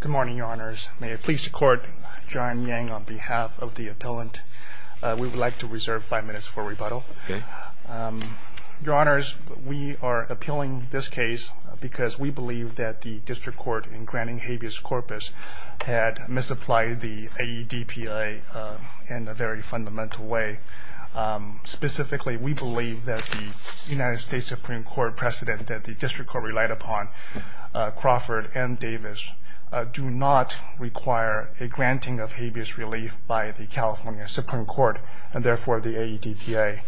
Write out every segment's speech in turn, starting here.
Good morning, Your Honors. May it please the Court, John Yang on behalf of the appellant. We would like to reserve five minutes for rebuttal. Your Honors, we are appealing this case because we believe that the District Court in granting habeas corpus had misapplied the AEDPA in a very fundamental way. Specifically, we believe that the United States Supreme Court precedent that the District Court relied upon, Crawford and Davis, do not require a granting of habeas relief by the California Supreme Court, and therefore the AEDPA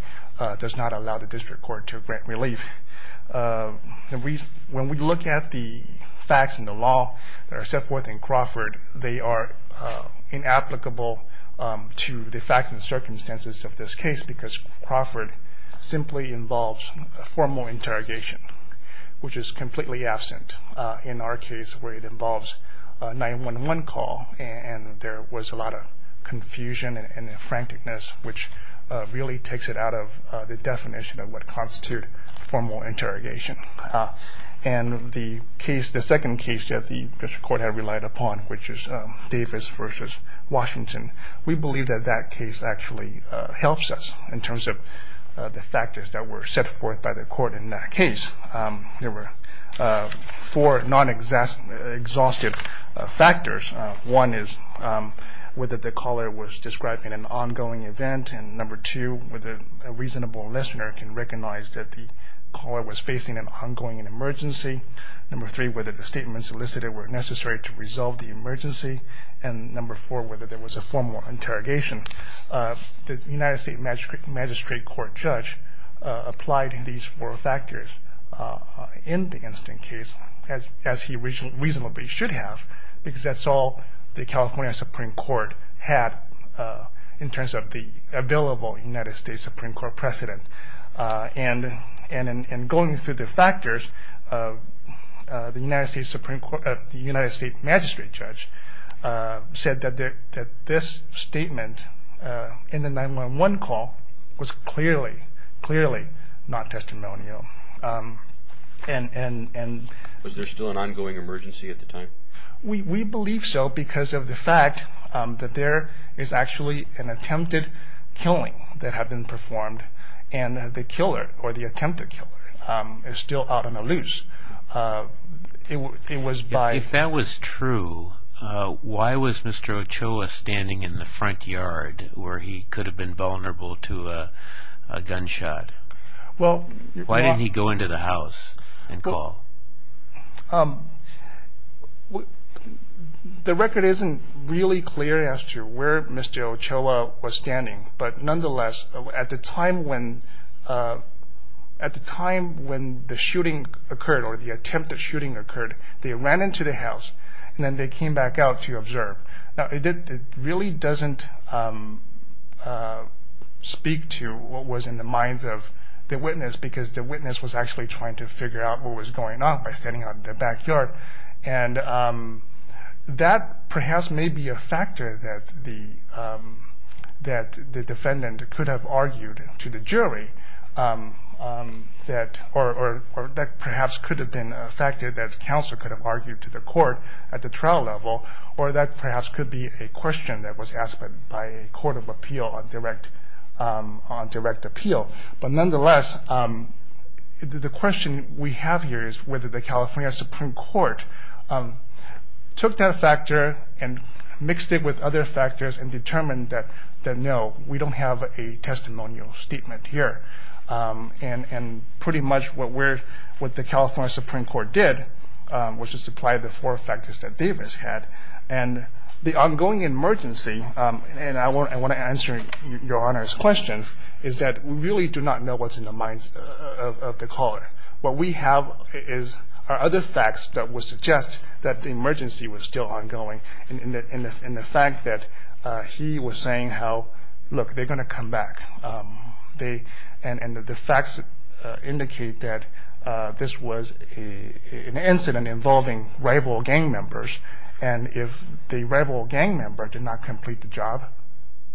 does not allow the District Court to grant relief. When we look at the facts and the law that are set forth in Crawford, they are inapplicable to the facts and circumstances of this case because Crawford simply involves formal interrogation, which is completely absent in our case where it involves a 911 call and there was a lot of confusion and frankness, which really takes it out of the definition of what constitutes formal interrogation. The second case that the District Court had relied upon, which is Davis v. Washington, we believe that that case actually helps us in terms of the factors that were set forth by the Court in that case. There were four non-exhaustive factors. One is whether the caller was describing an ongoing event, and number two, whether a reasonable listener can recognize that the caller was facing an ongoing emergency, number three, whether the statements solicited were necessary to resolve the emergency, and number four, whether there was a formal interrogation. The United States Magistrate Court judge applied these four factors in the incident case, as he reasonably should have because that's all the California Supreme Court had in terms of the available United States Supreme Court precedent. Going through the factors, the United States Magistrate judge said that this statement in the 911 call was clearly not testimonial. Was there still an ongoing emergency at the time? We believe so because of the fact that there is actually an attempted killing that had been performed and the killer or the attempted killer is still out on a loose. If that was true, why was Mr. Ochoa standing in the front yard where he could have been vulnerable to a gunshot? Why didn't he go into the house and call? The record isn't really clear as to where Mr. Ochoa was standing, but nonetheless, at the time when the shooting occurred or the attempted shooting occurred, they ran into the house and then they came back out to observe. It really doesn't speak to what was in the minds of the witness because the witness was actually trying to figure out what was going on by standing out in the backyard. That perhaps may be a factor that the defendant could have argued to the jury or that perhaps could have been a factor that counsel could have argued to the court at the trial level or that perhaps could be a question that was asked by a court of appeal on direct appeal. Nonetheless, the question we have here is whether the California Supreme Court took that factor and mixed it with other factors and determined that no, we don't have a testimonial statement here. Pretty much what the California Supreme Court did was to supply the four factors that Davis had. The ongoing emergency, and I want to answer Your Honor's question, is that we really do not know what's in the minds of the caller. What we have are other facts that would suggest that the emergency was still ongoing and the fact that he was saying how, look, they're going to come back. And the facts indicate that this was an incident involving rival gang members and if the rival gang member did not complete the job,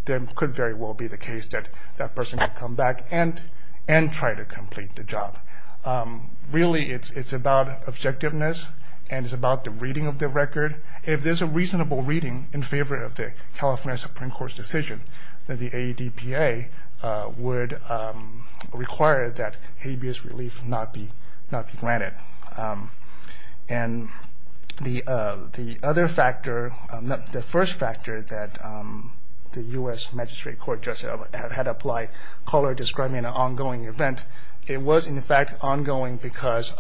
then it could very well be the case that that person could come back and try to complete the job. Really it's about objectiveness and it's about the reading of the record. If there's a reasonable reading in favor of the California Supreme Court's decision, then the AEDPA would require that habeas relief not be granted. And the other factor, the first factor that the U.S. Magistrate Court just had applied, caller describing an ongoing event, it was in fact ongoing because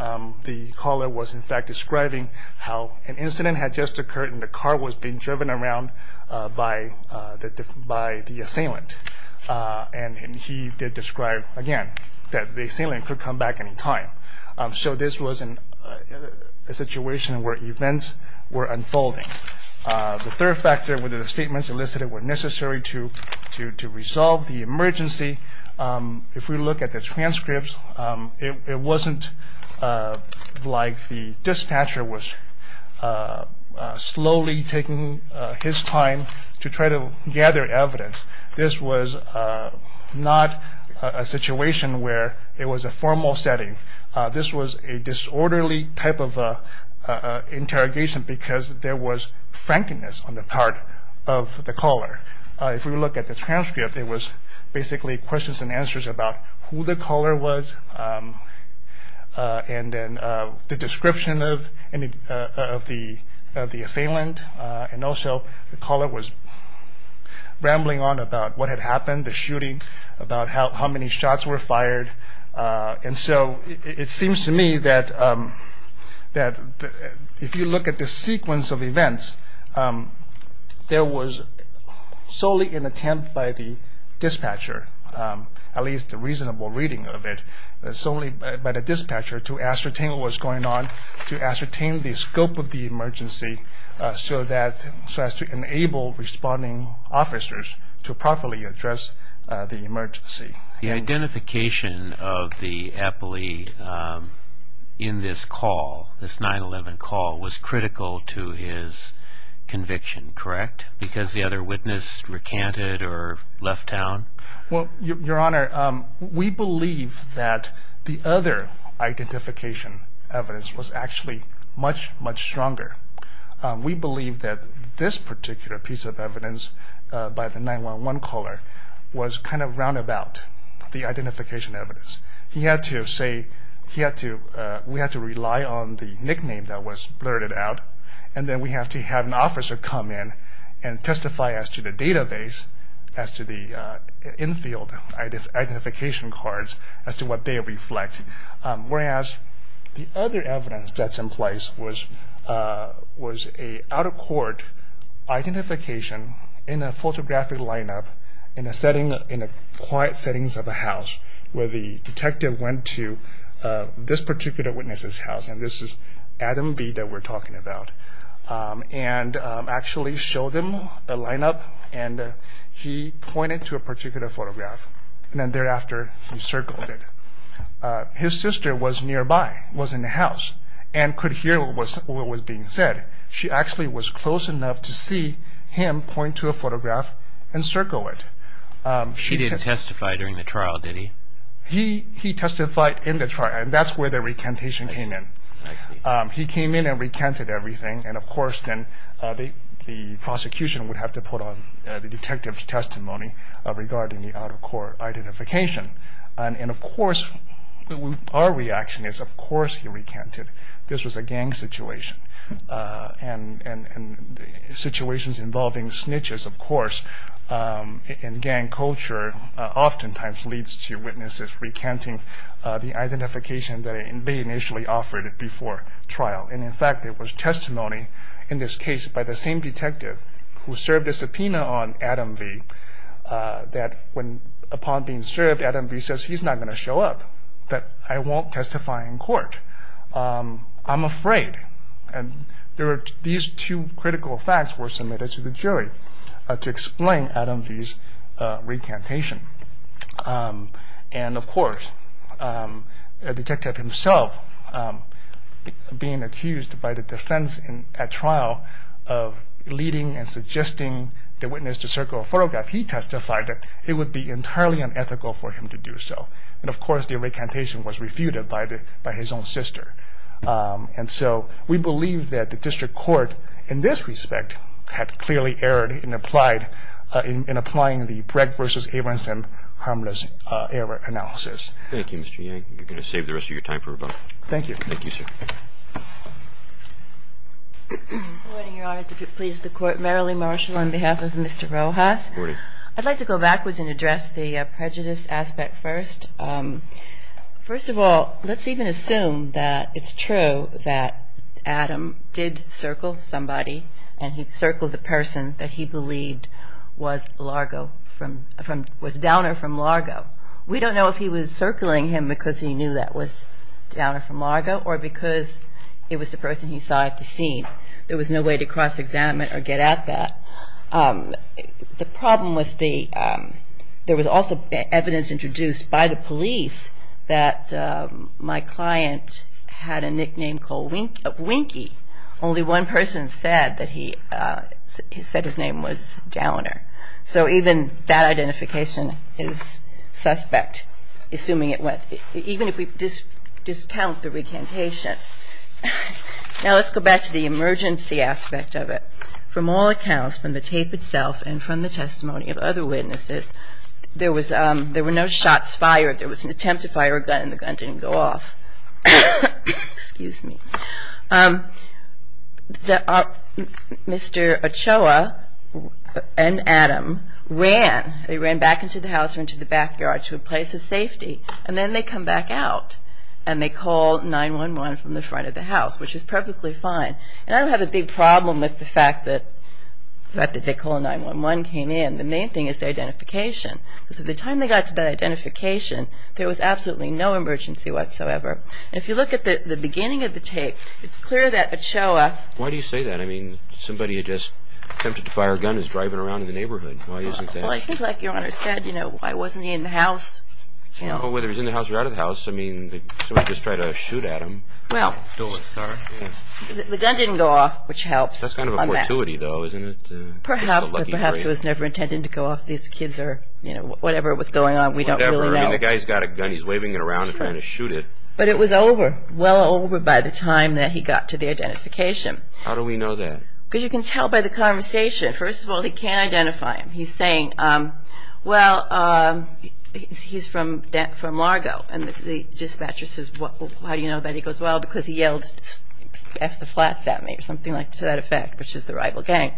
the caller was in fact describing how an incident had just occurred and the car was being driven around by the assailant. And he did describe, again, that the assailant could come back any time. So this was a situation where events were unfolding. The third factor were the statements elicited were necessary to resolve the emergency. If we look at the transcripts, it wasn't like the dispatcher was slowly taking his time to try to gather evidence. This was not a situation where it was a formal setting. This was a disorderly type of interrogation because there was frankness on the part of the caller. If we look at the transcript, it was basically questions and answers about who the caller was and then the description of the assailant. And also the caller was rambling on about what had happened, the shooting, about how many shots were fired. And so it seems to me that if you look at the sequence of events, there was solely an attempt by the dispatcher, at least a reasonable reading of it, solely by the dispatcher to ascertain what was going on, to ascertain the scope of the emergency, so as to enable responding officers to properly address the emergency. The identification of the appellee in this call, this 911 call, was critical to his conviction, correct? Because the other witness recanted or left town? Well, Your Honor, we believe that the other identification evidence was actually much, much stronger. We believe that this particular piece of evidence by the 911 caller was kind of roundabout, the identification evidence. He had to say, we had to rely on the nickname that was blurted out, and then we have to have an officer come in and testify as to the database, as to the infield identification cards, as to what they reflect. Whereas the other evidence that's in place was an out-of-court identification in a photographic lineup, in the quiet settings of a house, where the detective went to this particular witness's house, and this is Adam V. that we're talking about, and actually showed him a lineup, and he pointed to a particular photograph, and then thereafter he circled it. His sister was nearby, was in the house, and could hear what was being said. She actually was close enough to see him point to a photograph and circle it. She didn't testify during the trial, did he? He testified in the trial, and that's where the recantation came in. He came in and recanted everything, and of course then the prosecution would have to put on the detective's testimony regarding the out-of-court identification. And of course, our reaction is, of course he recanted. This was a gang situation, and situations involving snitches, of course, in gang culture oftentimes leads to witnesses recanting the identification that they initially offered before trial. And in fact, there was testimony in this case by the same detective who served a subpoena on Adam V. that upon being served, Adam V. says he's not going to show up, that I won't testify in court. I'm afraid. These two critical facts were submitted to the jury to explain Adam V.'s recantation. And of course, the detective himself being accused by the defense at trial of leading and suggesting the witness to circle a photograph, he testified that it would be entirely unethical for him to do so. And of course, the recantation was refuted by his own sister. And so we believe that the district court, in this respect, had clearly erred in applying the Bregg v. Abramson harmless error analysis. Thank you, Mr. Yang. You're going to save the rest of your time for rebuttal. Thank you. Thank you, sir. Good morning, Your Honors. If you'll please the court. Merrilee Marshall on behalf of Mr. Rojas. Good morning. I'd like to go backwards and address the prejudice aspect first. First of all, let's even assume that it's true that Adam did circle somebody and he circled the person that he believed was Largo, was downer from Largo. We don't know if he was circling him because he knew that was downer from Largo or because it was the person he saw at the scene. There was no way to cross-examine or get at that. The problem with the – there was also evidence introduced by the police that my client had a nickname called Winky. Only one person said that he – said his name was Downer. So even that identification is suspect, assuming it went – even if we discount the recantation. Now let's go back to the emergency aspect of it. From all accounts, from the tape itself and from the testimony of other witnesses, there was – there were no shots fired. There was an attempt to fire a gun and the gun didn't go off. Excuse me. Mr. Ochoa and Adam ran. They ran back into the house or into the backyard to a place of safety, and then they come back out and they call 911 from the front of the house, which is perfectly fine. And I don't have a big problem with the fact that they called 911 came in. The main thing is their identification. Because at the time they got to that identification, there was absolutely no emergency whatsoever. And if you look at the beginning of the tape, it's clear that Ochoa – Why do you say that? I mean, somebody had just attempted to fire a gun and was driving around in the neighborhood. Why isn't that? Well, I think like Your Honor said, you know, why wasn't he in the house? I don't know whether he was in the house or out of the house. I mean, somebody just tried to shoot at him. Well, the gun didn't go off, which helps. That's kind of a fortuity though, isn't it? Perhaps, but perhaps it was never intended to go off. These kids are, you know, whatever was going on, we don't really know. Whatever. I mean, the guy's got a gun. He's waving it around and trying to shoot it. But it was over, well over by the time that he got to the identification. How do we know that? Because you can tell by the conversation. First of all, he can't identify him. He's saying, well, he's from Largo. And the dispatcher says, well, how do you know that? He goes, well, because he yelled F the flats at me or something to that effect, which is the rival gang.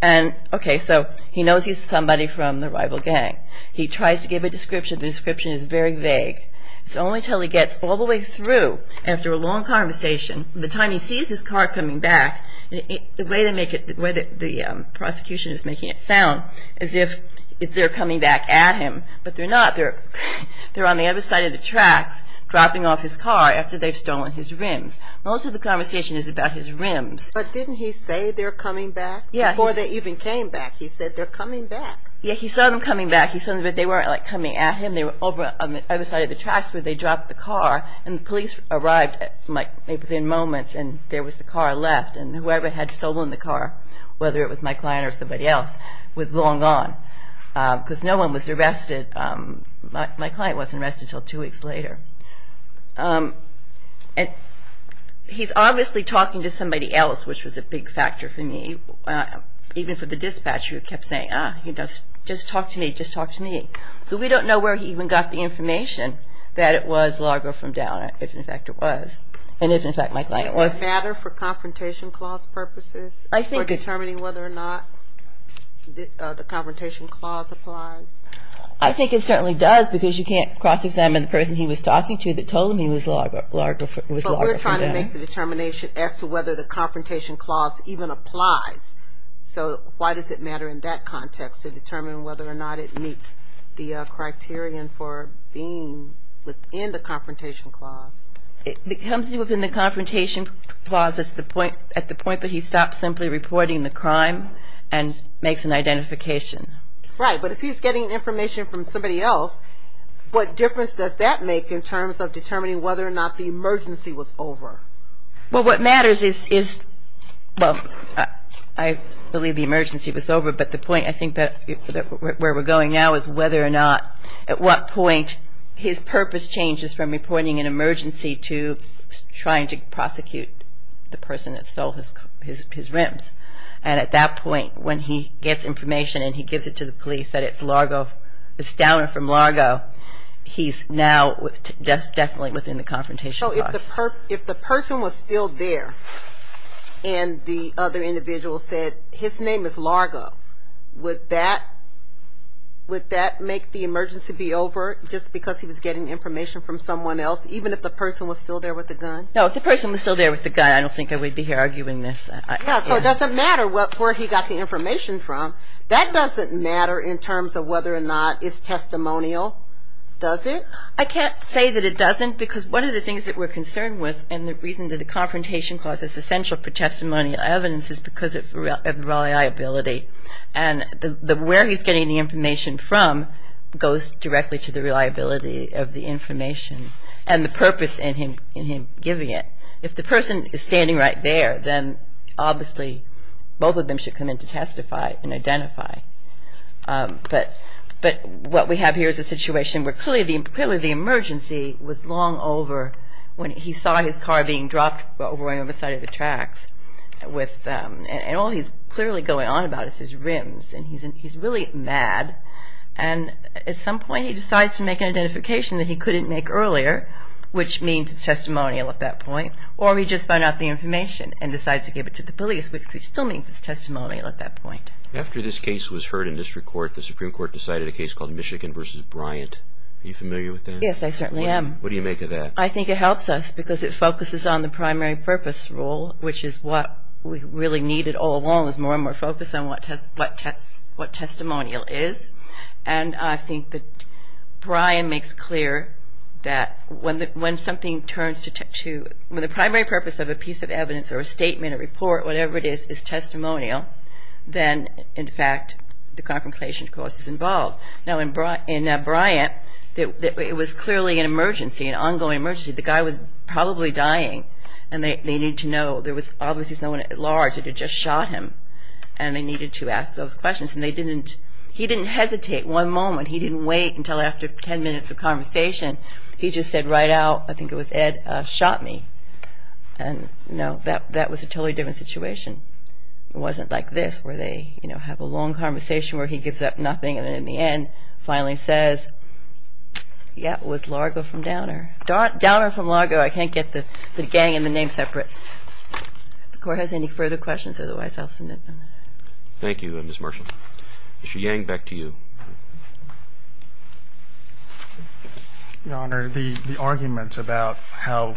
And okay, so he knows he's somebody from the rival gang. He tries to give a description. The description is very vague. It's only until he gets all the way through after a long conversation, the time he sees his car coming back, the way they make it, the way the prosecution is making it sound, as if they're coming back at him. But they're not. They're on the other side of the tracks dropping off his car after they've stolen his rims. Most of the conversation is about his rims. But didn't he say they're coming back? Yeah. Before they even came back, he said they're coming back. Yeah, he saw them coming back. He saw that they weren't, like, coming at him. They were over on the other side of the tracks where they dropped the car. And the police arrived, like, within moments, and there was the car left. And whoever had stolen the car, whether it was my client or somebody else, was long gone because no one was arrested. My client wasn't arrested until two weeks later. And he's obviously talking to somebody else, which was a big factor for me. Even for the dispatcher who kept saying, ah, you know, just talk to me, just talk to me. So we don't know where he even got the information that it was logger from down, if, in fact, it was, and if, in fact, my client was. Does it matter for confrontation clause purposes for determining whether or not the confrontation clause applies? I think it certainly does because you can't cross-examine the person he was talking to that told him he was logger from down. But we're trying to make the determination as to whether the confrontation clause even applies. So why does it matter in that context to determine whether or not it meets the criterion for being within the confrontation clause? It comes within the confrontation clause at the point that he stops simply reporting the crime and makes an identification. Right. But if he's getting information from somebody else, what difference does that make in terms of determining whether or not the emergency was over? Well, what matters is, well, I believe the emergency was over, but the point I think where we're going now is whether or not, at what point, his purpose changes from reporting an emergency to trying to prosecute the person that stole his rims. And at that point, when he gets information and he gives it to the police that it's downer from Largo, he's now definitely within the confrontation clause. So if the person was still there and the other individual said, his name is Largo, would that make the emergency be over just because he was getting information from someone else, even if the person was still there with the gun? No, if the person was still there with the gun, I don't think I would be here arguing this. So it doesn't matter where he got the information from. That doesn't matter in terms of whether or not it's testimonial, does it? I can't say that it doesn't, because one of the things that we're concerned with and the reason that the confrontation clause is essential for testimonial evidence is because of reliability. And where he's getting the information from goes directly to the reliability of the information and the purpose in him giving it. If the person is standing right there, then obviously both of them should come in to testify and identify. But what we have here is a situation where clearly the emergency was long over when he saw his car being dropped over on the side of the tracks and all he's clearly going on about is his rims. And he's really mad and at some point he decides to make an identification that he couldn't make earlier, which means it's testimonial at that point, or he just found out the information and decides to give it to the police, which still means it's testimonial at that point. After this case was heard in district court, the Supreme Court decided a case called Michigan v. Bryant. Are you familiar with that? Yes, I certainly am. What do you make of that? I think it helps us because it focuses on the primary purpose rule, which is what we really needed all along is more and more focus on what testimonial is. And I think that Bryant makes clear that when the primary purpose of a piece of evidence or a statement, a report, whatever it is, is testimonial, then in fact the confrontation, of course, is involved. Now in Bryant it was clearly an emergency, an ongoing emergency. The guy was probably dying and they needed to know. There was obviously someone at large that had just shot him and they needed to ask those questions. And he didn't hesitate one moment. He didn't wait until after ten minutes of conversation. He just said right out, I think it was Ed, shot me. And that was a totally different situation. It wasn't like this where they have a long conversation where he gives up nothing and in the end finally says, yeah, it was Largo from Downer. Downer from Largo. I can't get the gang and the name separate. If the Court has any further questions, otherwise I'll submit them. Thank you, Ms. Marshall. Mr. Yang, back to you. Your Honor, the arguments about how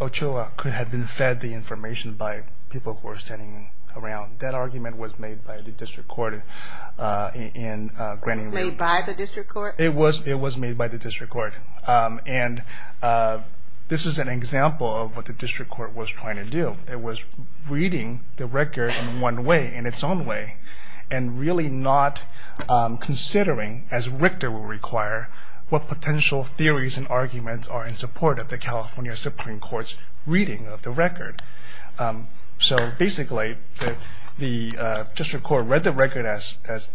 Ochoa could have been fed the information by people who were standing around, that argument was made by the District Court. Made by the District Court? It was made by the District Court. And this is an example of what the District Court was trying to do. It was reading the record in one way, in its own way, and really not considering, as Richter will require, what potential theories and arguments are in support of the California Supreme Court's reading of the record. So basically, the District Court read the record as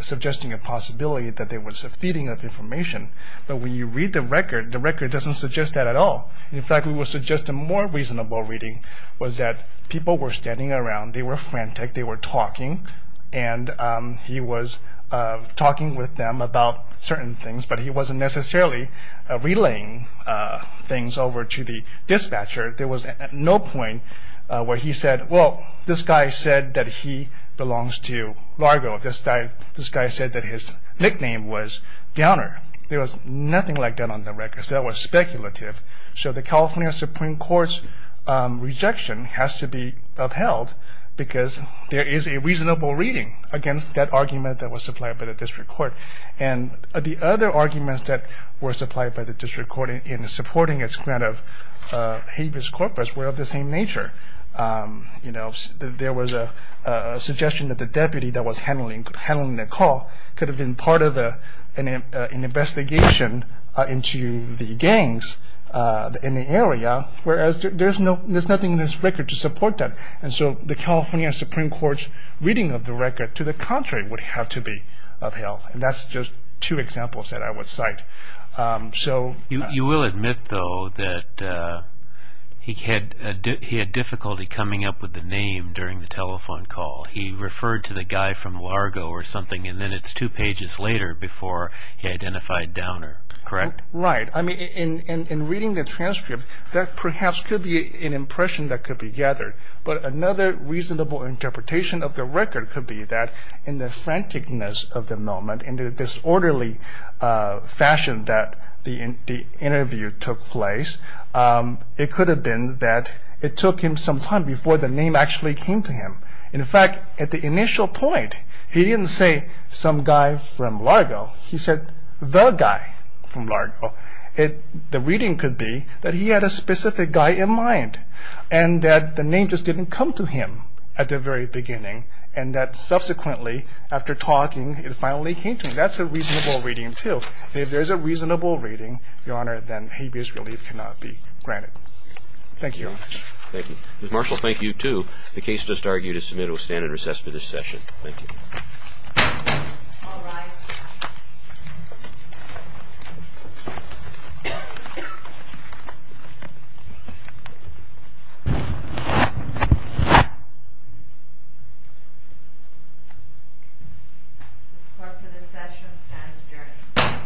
suggesting a possibility that there was a feeding of information. But when you read the record, the record doesn't suggest that at all. In fact, we would suggest a more reasonable reading was that people were standing around, they were frantic, they were talking. And he was talking with them about certain things, but he wasn't necessarily relaying things over to the dispatcher. There was no point where he said, well, this guy said that he belongs to Largo. This guy said that his nickname was Downer. So the California Supreme Court's rejection has to be upheld because there is a reasonable reading against that argument that was supplied by the District Court. And the other arguments that were supplied by the District Court in supporting its grant of habeas corpus were of the same nature. There was a suggestion that the deputy that was handling the call could have been part of an investigation into the gangs in the area, whereas there's nothing in this record to support that. And so the California Supreme Court's reading of the record, to the contrary, would have to be upheld. And that's just two examples that I would cite. You will admit, though, that he had difficulty coming up with the name during the telephone call. He referred to the guy from Largo or something, and then it's two pages later before he identified Downer. Correct? Right. I mean, in reading the transcript, that perhaps could be an impression that could be gathered. But another reasonable interpretation of the record could be that in the franticness of the moment, in the disorderly fashion that the interview took place, it could have been that it took him some time before the name actually came to him. And, in fact, at the initial point, he didn't say some guy from Largo. He said the guy from Largo. The reading could be that he had a specific guy in mind and that the name just didn't come to him at the very beginning and that subsequently, after talking, it finally came to him. That's a reasonable reading, too. If there's a reasonable reading, Your Honor, then habeas relief cannot be granted. Thank you very much. Thank you. Ms. Marshall, thank you, too. The case just argued is submitted. We'll stand at recess for this session. Thank you. All rise. This court for this session stands adjourned.